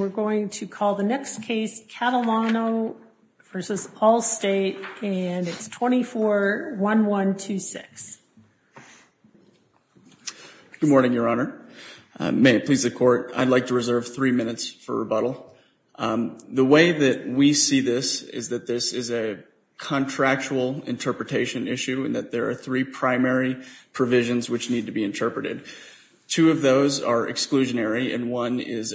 and we're going to call the next case Catalano v. Allstate and it's 24-1126. Good morning, Your Honor. May it please the Court, I'd like to reserve three minutes for rebuttal. The way that we see this is that this is a contractual interpretation issue and that there are three primary provisions which need to be interpreted. Two of those are exclusionary and one is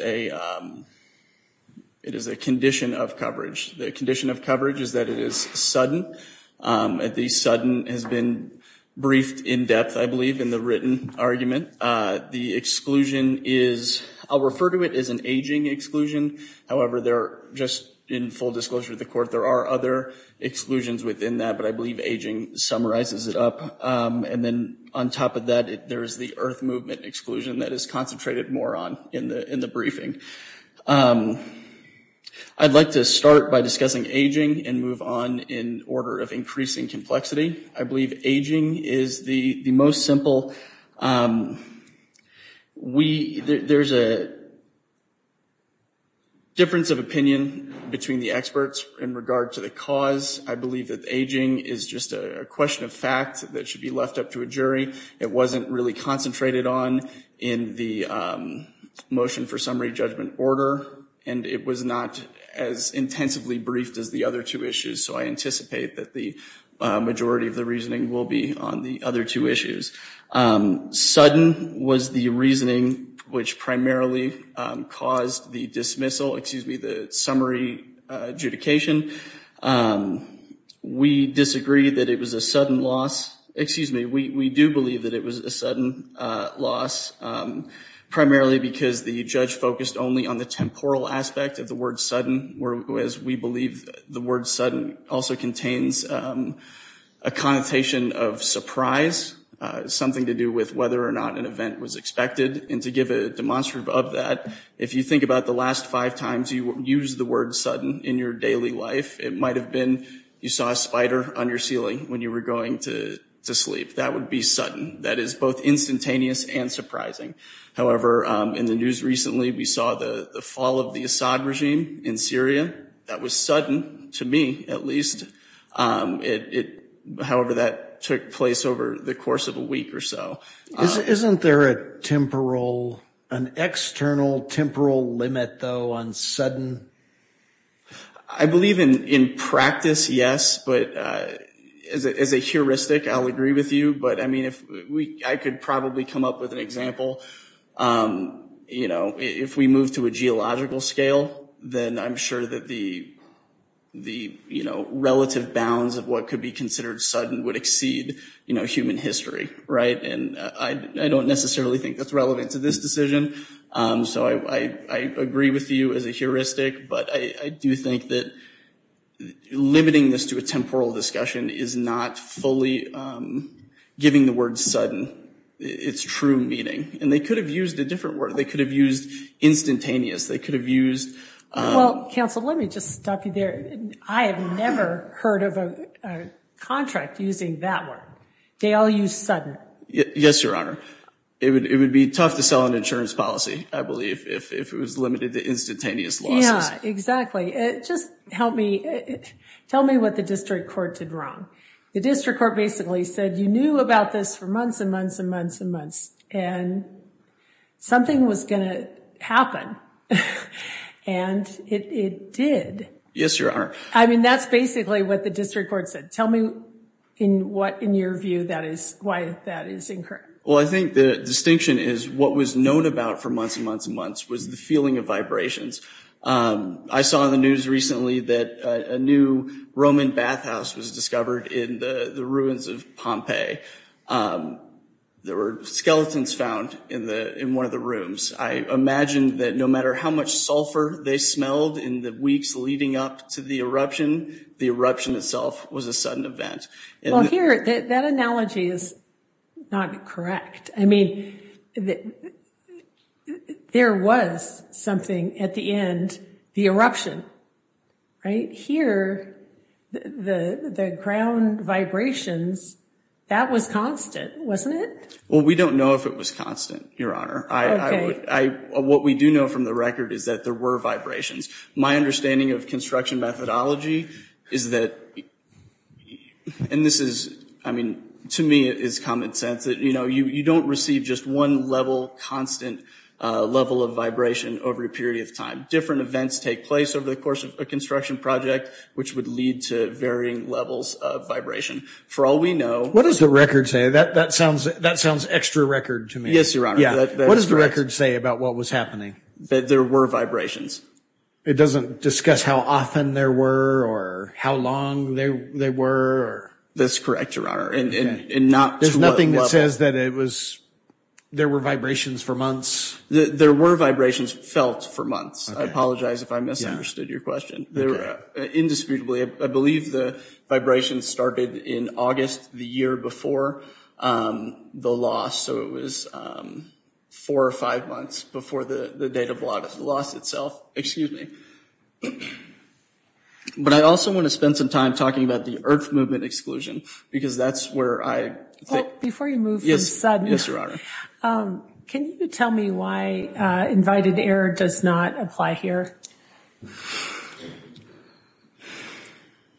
a condition of coverage. The condition of coverage is that it is sudden. The sudden has been briefed in depth, I believe, in the written argument. The exclusion is, I'll refer to it as an aging exclusion. However, just in full disclosure to the Court, there are other exclusions within that, but I believe aging summarizes it up. And then on top of that, there is the earth movement exclusion that is concentrated more on in the briefing. I'd like to start by discussing aging and move on in order of increasing complexity. I believe aging is the most simple. There's a difference of opinion between the experts in regard to the cause. I believe that aging is just a question of fact that should be left up to a jury. It wasn't really concentrated on in the motion for summary judgment order and it was not as intensively briefed as the other two issues, so I anticipate that the majority of the reasoning will be on the other two issues. Sudden was the reasoning which primarily caused the dismissal, excuse me, the summary adjudication. We disagree that it was a sudden loss. Excuse me, we do believe that it was a sudden loss, primarily because the judge focused only on the temporal aspect of the word sudden, whereas we believe the word sudden also contains a connotation of surprise, something to do with whether or not an event was expected. And to give a demonstrative of that, if you think about the last five times you used the word sudden in your daily life, it might have been you saw a spider on your ceiling when you were going to sleep. That would be sudden. That is both instantaneous and surprising. However, in the news recently we saw the fall of the Assad regime in Syria. That was sudden, to me at least. However, that took place over the course of a week or so. Isn't there a temporal, an external temporal limit, though, on sudden? I believe in practice, yes. But as a heuristic, I'll agree with you. But, I mean, I could probably come up with an example. You know, if we move to a geological scale, then I'm sure that the relative bounds of what could be considered sudden would exceed human history. Right? And I don't necessarily think that's relevant to this decision. So I agree with you as a heuristic. But I do think that limiting this to a temporal discussion is not fully giving the word sudden its true meaning. And they could have used a different word. They could have used instantaneous. They could have used. Well, counsel, let me just stop you there. I have never heard of a contract using that word. They all use sudden. Yes, Your Honor. It would be tough to sell an insurance policy, I believe, if it was limited to instantaneous losses. Yeah, exactly. Just help me. Tell me what the district court did wrong. The district court basically said you knew about this for months and months and months and months. And something was going to happen. And it did. Yes, Your Honor. I mean, that's basically what the district court said. Tell me in what in your view that is why that is incorrect. Well, I think the distinction is what was known about for months and months and months was the feeling of vibrations. I saw the news recently that a new Roman bathhouse was discovered in the ruins of Pompeii. There were skeletons found in the in one of the rooms. I imagine that no matter how much sulfur they smelled in the weeks leading up to the eruption, the eruption itself was a sudden event. Well, here, that analogy is not correct. I mean, there was something at the end, the eruption. Right here, the ground vibrations, that was constant, wasn't it? Well, we don't know if it was constant, Your Honor. Okay. What we do know from the record is that there were vibrations. My understanding of construction methodology is that, and this is, I mean, to me it is common sense, that, you know, you don't receive just one level, constant level of vibration over a period of time. Different events take place over the course of a construction project, which would lead to varying levels of vibration. For all we know. What does the record say? That sounds extra record to me. Yes, Your Honor. What does the record say about what was happening? That there were vibrations. It doesn't discuss how often there were or how long they were? That's correct, Your Honor. There's nothing that says that it was, there were vibrations for months? There were vibrations felt for months. I apologize if I misunderstood your question. Indisputably, I believe the vibrations started in August, the year before the loss, so it was four or five months before the date of the loss itself. Excuse me. But I also want to spend some time talking about the earth movement exclusion, because that's where I think. Yes, Your Honor. Can you tell me why invited error does not apply here?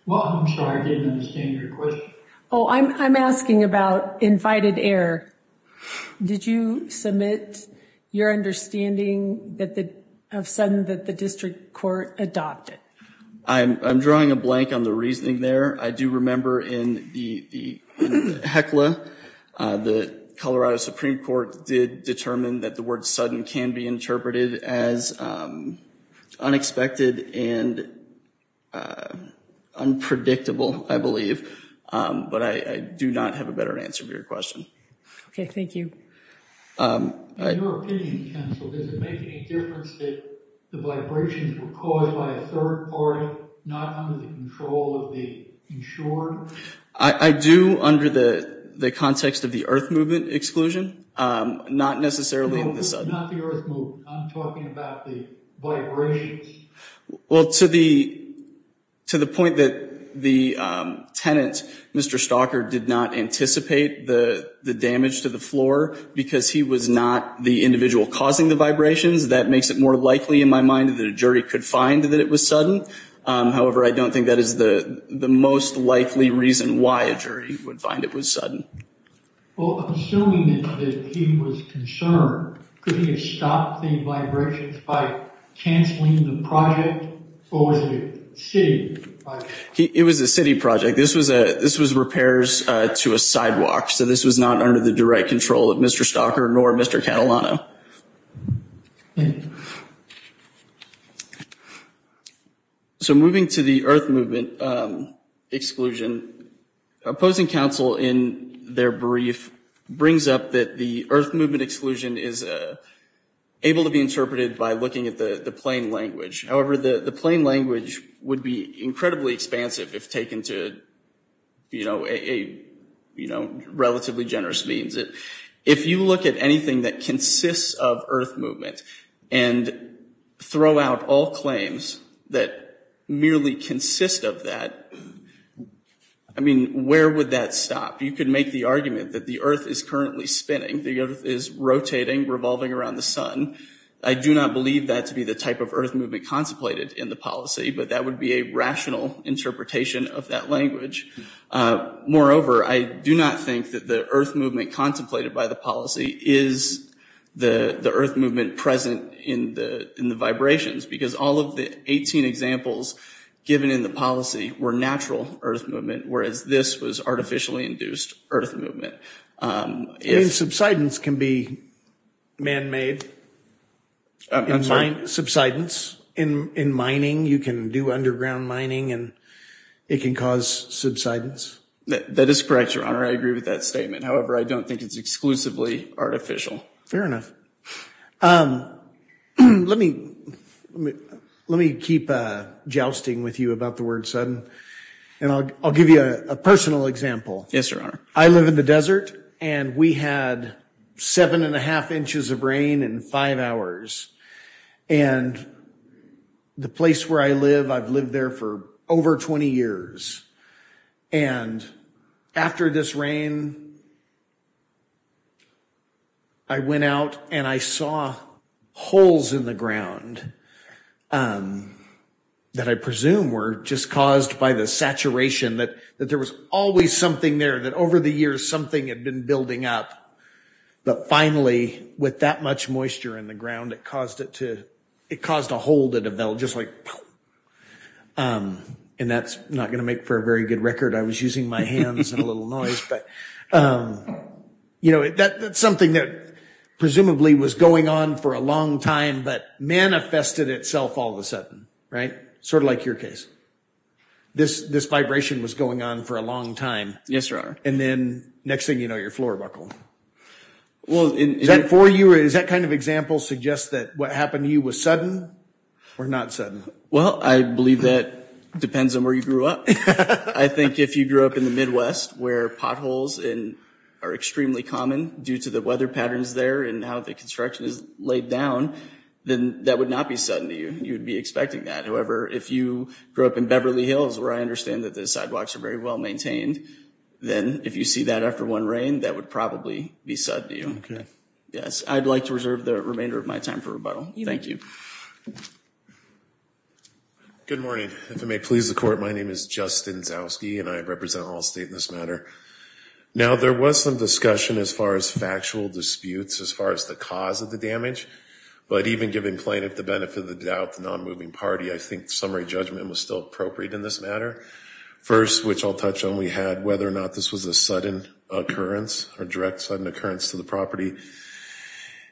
Well, I'm sorry, I didn't understand your question. Oh, I'm asking about invited error. Did you submit your understanding of sudden that the district court adopted? I'm drawing a blank on the reasoning there. I do remember in the HECLA, the Colorado Supreme Court did determine that the word sudden can be interpreted as unexpected and unpredictable, I believe. But I do not have a better answer to your question. Okay, thank you. In your opinion, counsel, does it make any difference that the vibrations were caused by a third party, not under the control of the insurer? I do, under the context of the earth movement exclusion, not necessarily the sudden. Not the earth movement, I'm talking about the vibrations. Well, to the point that the tenant, Mr. Stalker, did not anticipate the damage to the floor because he was not the individual causing the vibrations, that makes it more likely in my mind that a jury could find that it was sudden. However, I don't think that is the most likely reason why a jury would find it was sudden. Well, assuming that he was concerned, could he have stopped the vibrations by canceling the project or was it a city project? It was a city project. This was repairs to a sidewalk, so this was not under the direct control of Mr. Stalker nor Mr. Catalano. Thank you. So moving to the earth movement exclusion, opposing counsel in their brief brings up that the earth movement exclusion is able to be interpreted by looking at the plain language. However, the plain language would be incredibly expansive if taken to a relatively generous means. If you look at anything that consists of earth movement and throw out all claims that merely consist of that, I mean, where would that stop? You could make the argument that the earth is currently spinning. The earth is rotating, revolving around the sun. I do not believe that to be the type of earth movement contemplated in the policy, but that would be a rational interpretation of that language. Moreover, I do not think that the earth movement contemplated by the policy is the earth movement present in the vibrations, because all of the 18 examples given in the policy were natural earth movement, whereas this was artificially induced earth movement. Subsidence can be man-made. I'm sorry? Subsidence in mining. You can do underground mining and it can cause subsidence. That is correct, Your Honor. I agree with that statement. However, I don't think it's exclusively artificial. Fair enough. Let me keep jousting with you about the word sudden, and I'll give you a personal example. Yes, Your Honor. I live in the desert, and we had seven and a half inches of rain in five hours. And the place where I live, I've lived there for over 20 years. And after this rain, I went out and I saw holes in the ground that I presume were just caused by the saturation, that there was always something there, that over the years something had been building up. But finally, with that much moisture in the ground, it caused a hole to develop, just like... And that's not going to make for a very good record. I was using my hands and a little noise, but... You know, that's something that presumably was going on for a long time, but manifested itself all of a sudden, right? Sort of like your case. This vibration was going on for a long time. Yes, Your Honor. And then, next thing you know, you're floor buckled. Is that for you, or does that kind of example suggest that what happened to you was sudden or not sudden? Well, I believe that depends on where you grew up. I think if you grew up in the Midwest, where potholes are extremely common due to the weather patterns there and how the construction is laid down, then that would not be sudden to you. You would be expecting that. However, if you grew up in Beverly Hills, where I understand that the sidewalks are very well maintained, then if you see that after one rain, that would probably be sudden to you. Okay. Yes, I'd like to reserve the remainder of my time for rebuttal. Thank you. Good morning. If it may please the Court, my name is Justin Zowski, and I represent Allstate in this matter. Now, there was some discussion as far as factual disputes, as far as the cause of the damage. But even giving plaintiff the benefit of the doubt, the nonmoving party, I think summary judgment was still appropriate in this matter. First, which I'll touch on, we had whether or not this was a sudden occurrence or direct sudden occurrence to the property.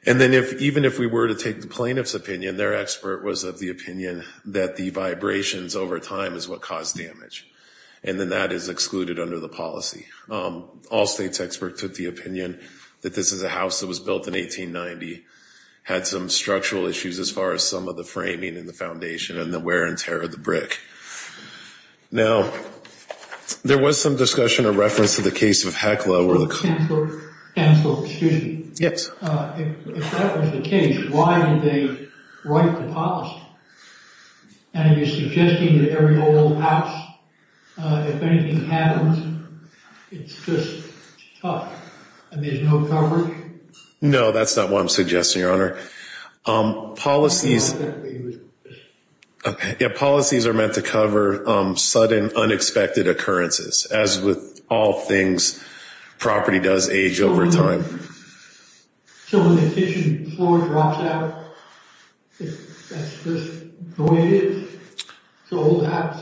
And then even if we were to take the plaintiff's opinion, their expert was of the opinion that the vibrations over time is what caused damage, and then that is excluded under the policy. Allstate's expert took the opinion that this is a house that was built in 1890, had some structural issues as far as some of the framing in the foundation, and the wear and tear of the brick. Now, there was some discussion or reference to the case of Heckler. Counselor, excuse me. Yes. If that was the case, why did they write the policy? Are you suggesting that every old house, if anything happens, it's just tough and there's no coverage? No, that's not what I'm suggesting, Your Honor. Policies are meant to cover sudden, unexpected occurrences. As with all things, property does age over time. So when the kitchen floor drops out, that's just the way it is? It's an old house.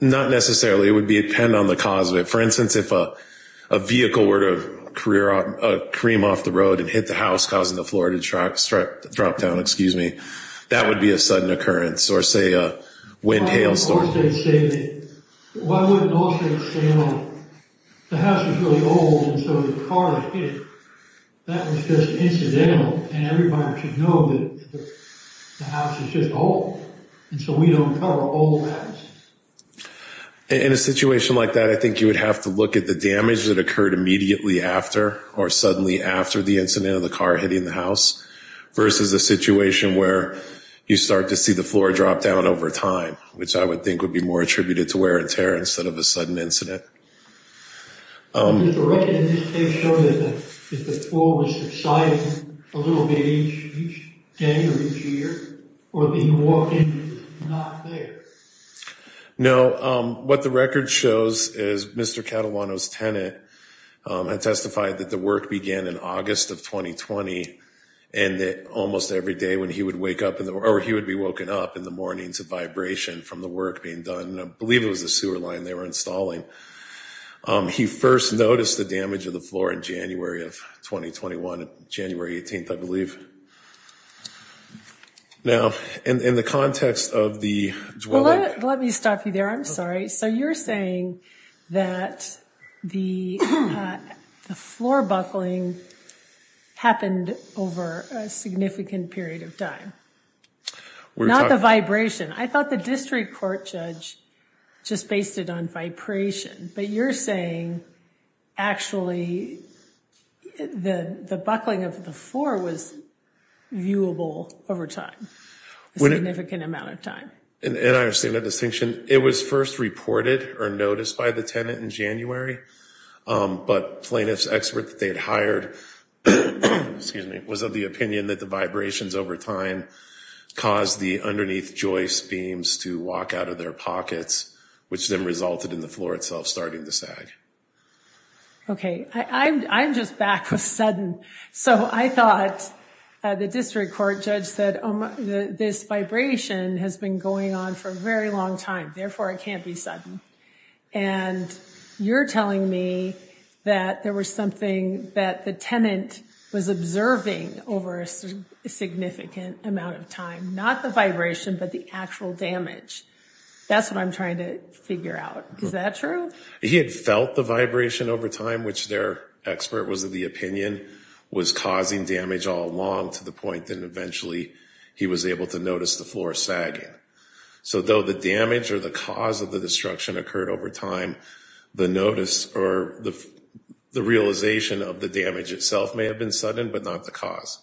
Not necessarily. It would depend on the cause of it. For instance, if a vehicle were to cream off the road and hit the house causing the floor to drop down, that would be a sudden occurrence or, say, a wind hails the floor. Why would Allstate say that? The house was really old, and so the car that hit it, that was just incidental, and everybody should know that the house is just old. And so we don't cover old houses. In a situation like that, I think you would have to look at the damage that occurred immediately after or suddenly after the incident of the car hitting the house versus a situation where you start to see the floor drop down over time, which I would think would be more attributed to wear and tear instead of a sudden incident. Did the record in this case show that the floor was subsiding a little bit each day or each year or that you walked into it and it was not there? No. What the record shows is Mr. Catalano's tenant had testified that the work began in August of 2020 and that almost every day when he would wake up or he would be woken up in the mornings of vibration from the work being done. I believe it was the sewer line they were installing. He first noticed the damage of the floor in January of 2021, January 18th, I believe. Now, in the context of the dwelling. Let me stop you there. I'm sorry. So you're saying that the floor buckling happened over a significant period of time, not the vibration. I thought the district court judge just based it on vibration, but you're saying actually the buckling of the floor was viewable over time, a significant amount of time. And I understand that distinction. It was first reported or noticed by the tenant in January, but plaintiff's expert that they had hired was of the opinion that the buckling of the floor over time caused the underneath joist beams to walk out of their pockets, which then resulted in the floor itself starting to sag. Okay. I'm just back with sudden. So I thought the district court judge said, this vibration has been going on for a very long time. Therefore, it can't be sudden. And you're telling me that there was something that the tenant was observing over a significant amount of time, not the vibration, but the actual damage. That's what I'm trying to figure out. Is that true? He had felt the vibration over time, which their expert was of the opinion was causing damage all along to the point that eventually he was able to notice the floor sagging. So though the damage or the cause of the destruction occurred over time, the notice or the realization of the damage itself may have been sudden, but not the cause.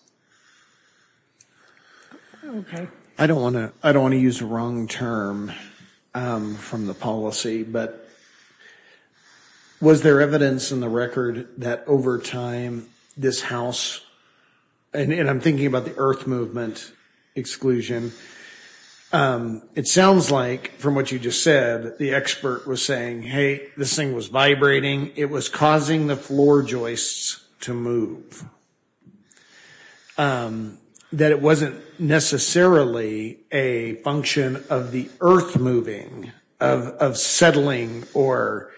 Okay. I don't want to use the wrong term from the policy, but was there evidence in the record that over time this house, and I'm thinking about the earth movement exclusion, it sounds like from what you just said, the expert was saying, hey, this thing was vibrating. He was saying it was causing the floor joists to move. That it wasn't necessarily a function of the earth moving, of settling, or,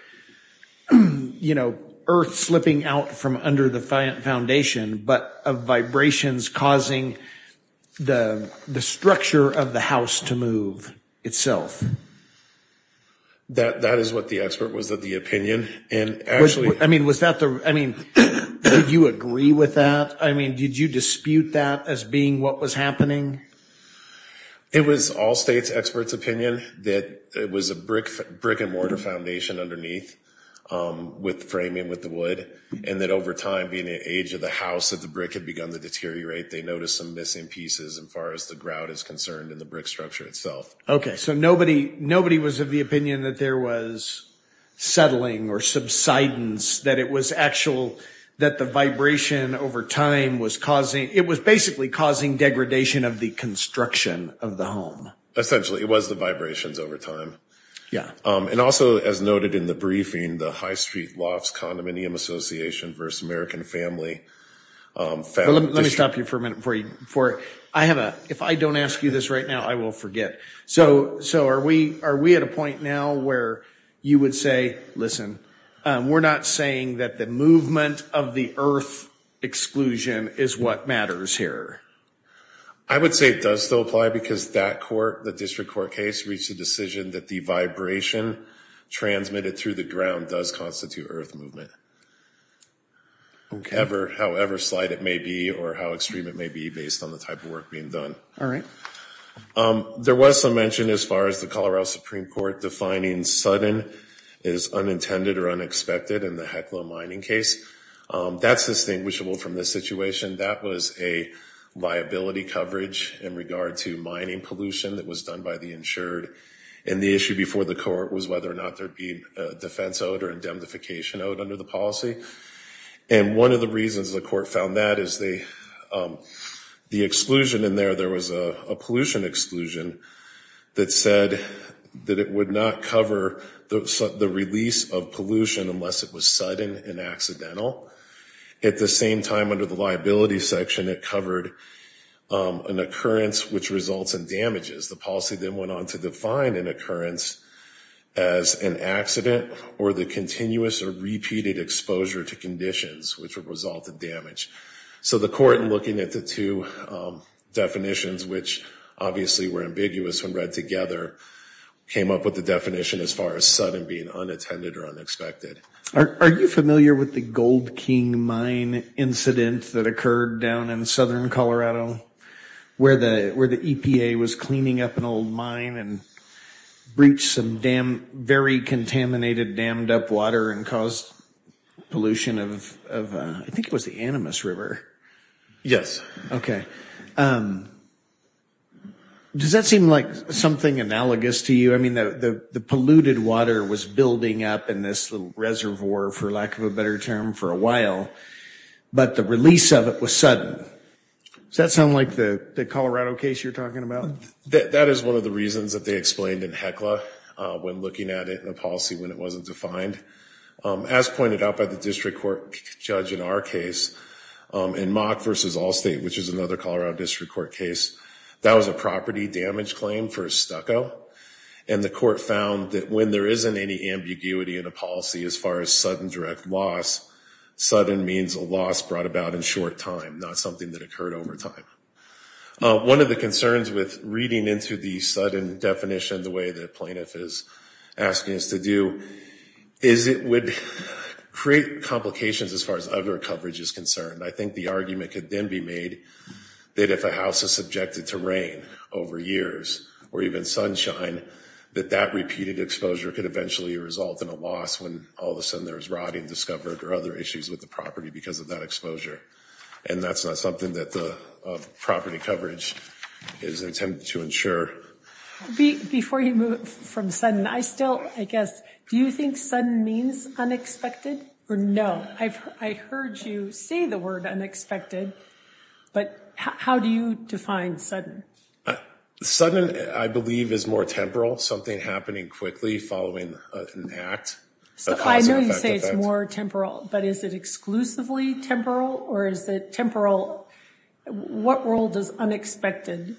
you know, earth slipping out from under the foundation, but of vibrations causing the structure of the house to move itself. That is what the expert was of the opinion. I mean, was that the, I mean, did you agree with that? I mean, did you dispute that as being what was happening? It was all state's experts' opinion that it was a brick and mortar foundation underneath with framing with the wood, and that over time being the age of the house, that the brick had begun to deteriorate. They noticed some missing pieces as far as the grout is concerned and the brick structure itself. Okay, so nobody was of the opinion that there was settling or subsidence, that it was actual, that the vibration over time was causing, it was basically causing degradation of the construction of the home. Essentially, it was the vibrations over time. Yeah. And also, as noted in the briefing, the High Street Lofts Condominium Association versus American Family. Let me stop you for a minute before you, I have a, if I don't ask you this right now, I will forget. So are we at a point now where you would say, listen, we're not saying that the movement of the earth exclusion is what matters here? I would say it does still apply because that court, the district court case, reached a decision that the vibration transmitted through the ground does constitute earth movement. Okay. However slight it may be or how extreme it may be based on the type of work being done. All right. There was some mention as far as the Colorado Supreme Court defining sudden is unintended or unexpected in the Heckler mining case. That's distinguishable from this situation. That was a liability coverage in regard to mining pollution that was done by the insured. And the issue before the court was whether or not there'd be a defense out or indemnification out under the policy. And one of the reasons the court found that is the, the exclusion in there there was a pollution exclusion that said that it would not cover the release of pollution unless it was sudden and At the same time under the liability section, it covered an occurrence which results in damages. The policy then went on to define an occurrence as an accident or the continuous or repeated exposure to conditions, which would result in damage. So the court looking at the two definitions, which obviously were ambiguous when read together, came up with the definition as far as sudden being unattended or unexpected. Are you familiar with the gold King mine incident that occurred down in Southern Colorado where the, where the EPA was cleaning up an old mine and breach some damn very contaminated dammed up water and caused pollution of, of, I think it was the animus river. Yes. Okay. Does that seem like something analogous to you? I mean, the, the, the polluted water was building up in this little reservoir for lack of a better term for a while, but the release of it was sudden. Does that sound like the Colorado case you're talking about? That is one of the reasons that they explained in heckler when looking at it in a policy when it wasn't defined as pointed out by the district court judge in our case in mock versus all state, which is another Colorado district court case. That was a property damage claim for a stucco. And the court found that when there isn't any ambiguity in a policy, as far as sudden direct loss, sudden means a loss brought about in short time, not something that occurred over time. One of the concerns with reading into the sudden definition, the way that plaintiff is asking us to do is it would create complications as far as other coverage is concerned. I think the argument could then be made that if a house is subjected to rain over years, or even sunshine that that repeated exposure could eventually result in a loss when all of a sudden there's rotting discovered or other issues with the property because of that exposure. And that's not something that the property coverage is intended to ensure before you move from sudden. I still, I guess, do you think sudden means unexpected or no, I've, I heard you say the word unexpected, but how do you define sudden? Sudden, I believe is more temporal, something happening quickly following an act. So I know you say it's more temporal, but is it exclusively temporal? Or is it temporal? What role does unexpected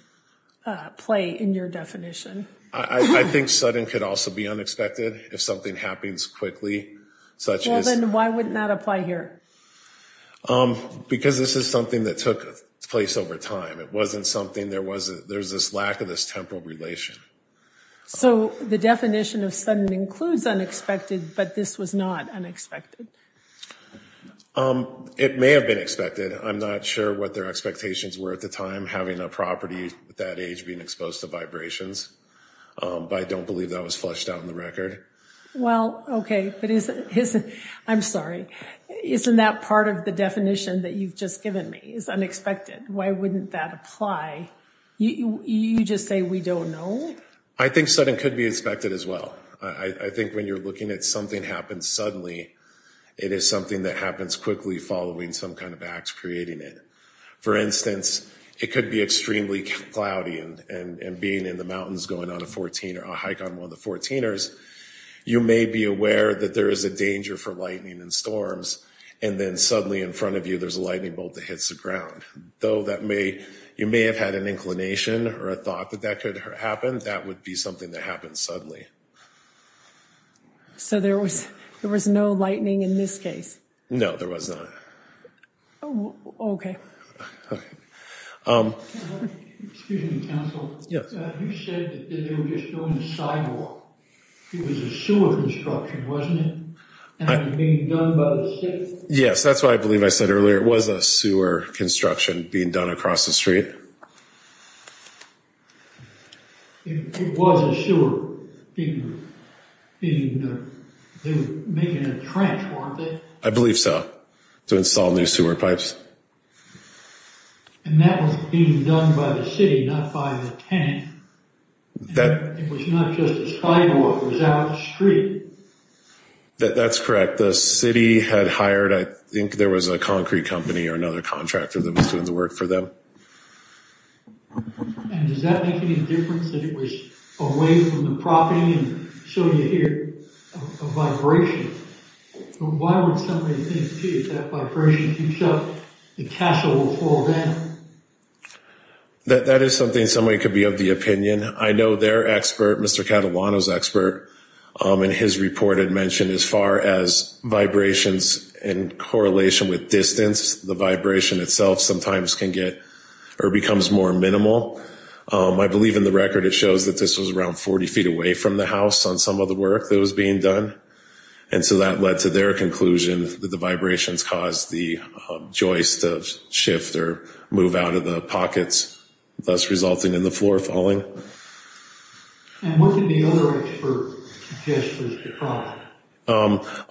play in your definition? I think sudden could also be unexpected if something happens quickly, such as why wouldn't that apply here? Because this is something that took place over time. It wasn't something, there wasn't, there's this lack of this temporal relation. So the definition of sudden includes unexpected, but this was not unexpected. It may have been expected. I'm not sure what their expectations were at the time having a property with that age being exposed to vibrations. But I don't believe that was fleshed out in the record. Well, okay. But isn't, I'm sorry. Isn't that part of the definition that you've just given me is unexpected. Why wouldn't that apply? You just say, we don't know. I think sudden could be expected as well. I think when you're looking at something happens suddenly, it is something that happens quickly following some kind of acts, creating it. For instance, it could be extremely cloudy and, and being in the mountains going on a 14 or a hike on one of the 14ers, you may be aware that there is a danger for lightning and storms. And then suddenly in front of you, there's a lightning bolt that hits the ground though that may, you may have had an inclination or a thought that that could happen. That would be something that happens suddenly. So there was, there was no lightning in this case. No, there was not. Oh, okay. Yes. That's why I believe I said earlier, it was a sewer construction being done across the street. Sure. I believe so to install new sewer pipes. That's correct. The city had hired. I think there was a concrete company or another contractor that was doing the work for them. That is something somebody could be of the opinion. I know their expert, Mr. Catalano's expert, and his report had mentioned as far as vibrations in correlation with distance, the vibration itself sometimes can get, or becomes more minimal. I believe in the record, it shows that there's a, that this was around 40 feet away from the house on some of the work that was being done. And so that led to their conclusion that the vibrations caused the joist shift or move out of the pockets, thus resulting in the floor falling.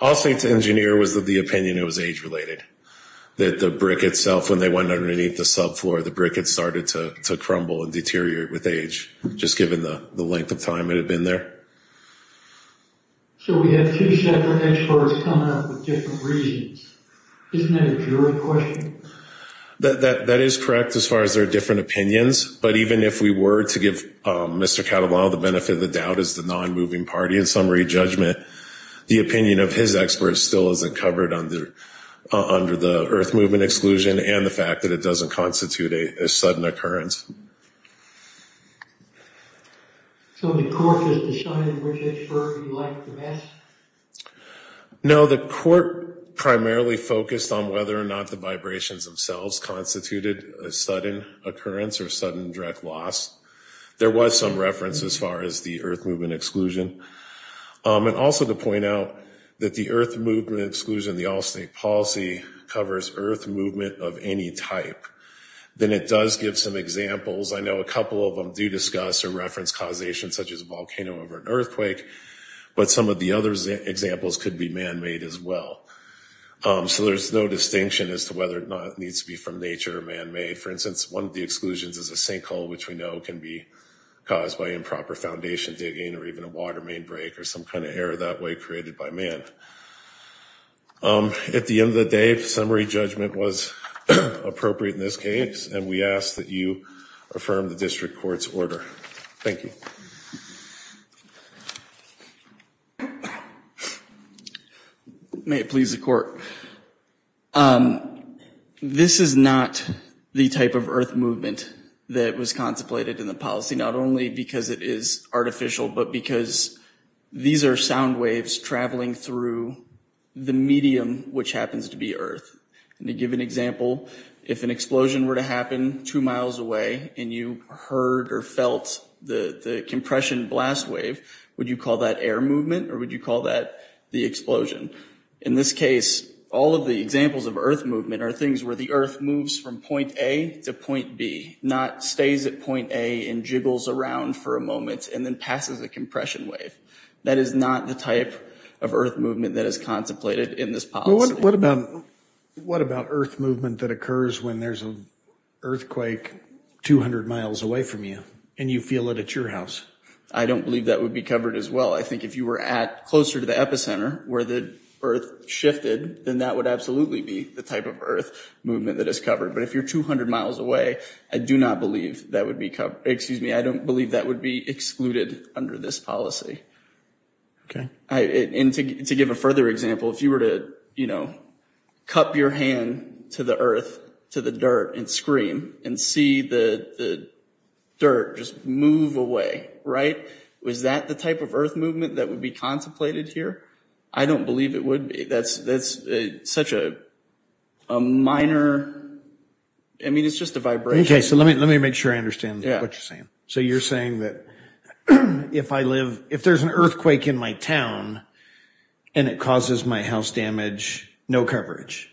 I'll say to engineer was that the opinion, it was age related that the brick itself, when they went underneath the sub floor, the brick had started to crumble and deteriorate with age, just given the length of time it had been there. That is correct. As far as there are different opinions, but even if we were to give Mr. Catalano, the benefit of the doubt is the non-moving party in summary judgment, the opinion of his experts still isn't covered under, under the earth movement exclusion and the fact that it doesn't constitute a sudden occurrence. No, the court primarily focused on whether or not the vibrations themselves constituted a sudden occurrence or sudden direct loss. There was some reference as far as the earth movement exclusion. And also to point out that the earth movement exclusion, the all state policy covers earth movement of any type. Then it does give some examples. I know a couple of them do discuss or reference causation, such as a volcano over an earthquake, but some of the other examples could be manmade as well. So there's no distinction as to whether or not it needs to be from nature or manmade. For instance, one of the exclusions is a sinkhole, which we know can be caused by improper foundation digging or even a water main break or some kind of error that way created by man. At the end of the day, summary judgment was appropriate in this case. And we ask that you affirm the district court's order. Thank you. May it please the court. This is not the type of earth movement that was contemplated in the policy, not only because it is artificial, but because these are sound waves traveling through the medium, which happens to be earth. And to give an example, if an explosion were to happen two miles away and you heard or felt the compression blast wave, would you call that air movement or would you call that the explosion? In this case, all of the examples of earth movement are things where the earth moves from point A to point B, not stays at point A and jiggles around for a moment and then passes a compression wave. That is not the type of earth movement that is contemplated in this policy. What about, what about earth movement that occurs when there's an earthquake, 200 miles away from you and you feel it at your house? I don't believe that would be covered as well. I think if you were at closer to the epicenter where the earth shifted, then that would absolutely be the type of earth movement that is covered. But if you're 200 miles away, I do not believe that would be covered. Excuse me. I don't believe that would be excluded under this policy. And to give a further example, if you were to, you know, cup your hand to the earth, to the dirt and scream and see the, the dirt just move away. Right. Was that the type of earth movement that would be contemplated here? I don't believe it would be. That's, that's such a, a minor, I mean, it's just a vibration. Okay. So let me, let me make sure I understand what you're saying. So you're saying that if I live, if there's an earthquake in my town and it causes my house damage, no coverage.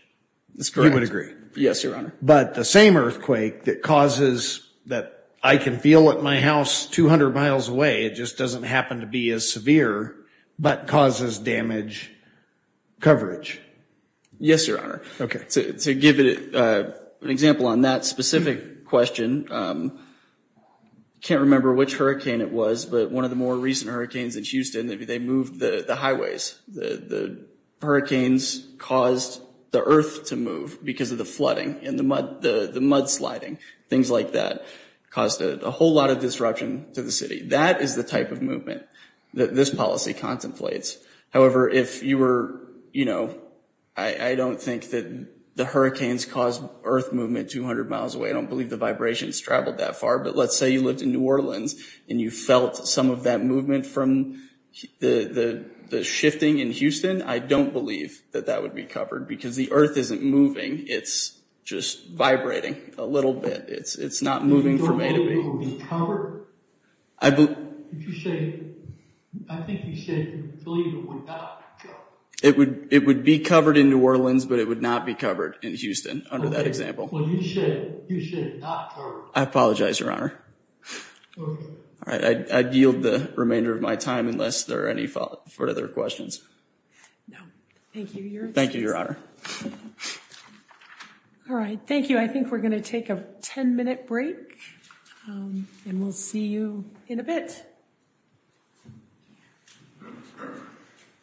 That's correct. You would agree. Yes, Your Honor. But the same earthquake that causes that I can feel at my house 200 miles away, it just doesn't happen to be as severe, but causes damage coverage. Yes, Your Honor. Okay. To give it a, an example on that specific question, can't remember which hurricane it was, but one of the more recent hurricanes in Houston, maybe they moved the highways, the hurricanes caused the earth to move because of the flooding and the mud, the mud sliding, things like that caused a whole lot of disruption to the city. That is the type of movement that this policy contemplates. However, if you were, you know, I don't think that the hurricanes caused earth movement, 200 miles away. I don't believe the vibrations traveled that far, but let's say you lived in new Orleans and you felt some of that movement from the, the shifting in Houston. I don't believe that that would be covered because the earth isn't moving. It's just vibrating a little bit. It's, it's not moving for me to be covered. I believe you say, I think you said, it would, it would be covered in new Orleans, but it would not be covered in Houston. Under that example. Well, you should, you should not. I apologize, your honor. All right. I yield the remainder of my time unless there are any further questions. No, thank you. Thank you, your honor. All right. Thank you. I think we're going to take a 10 minute break and we'll see you in a bit. Okay.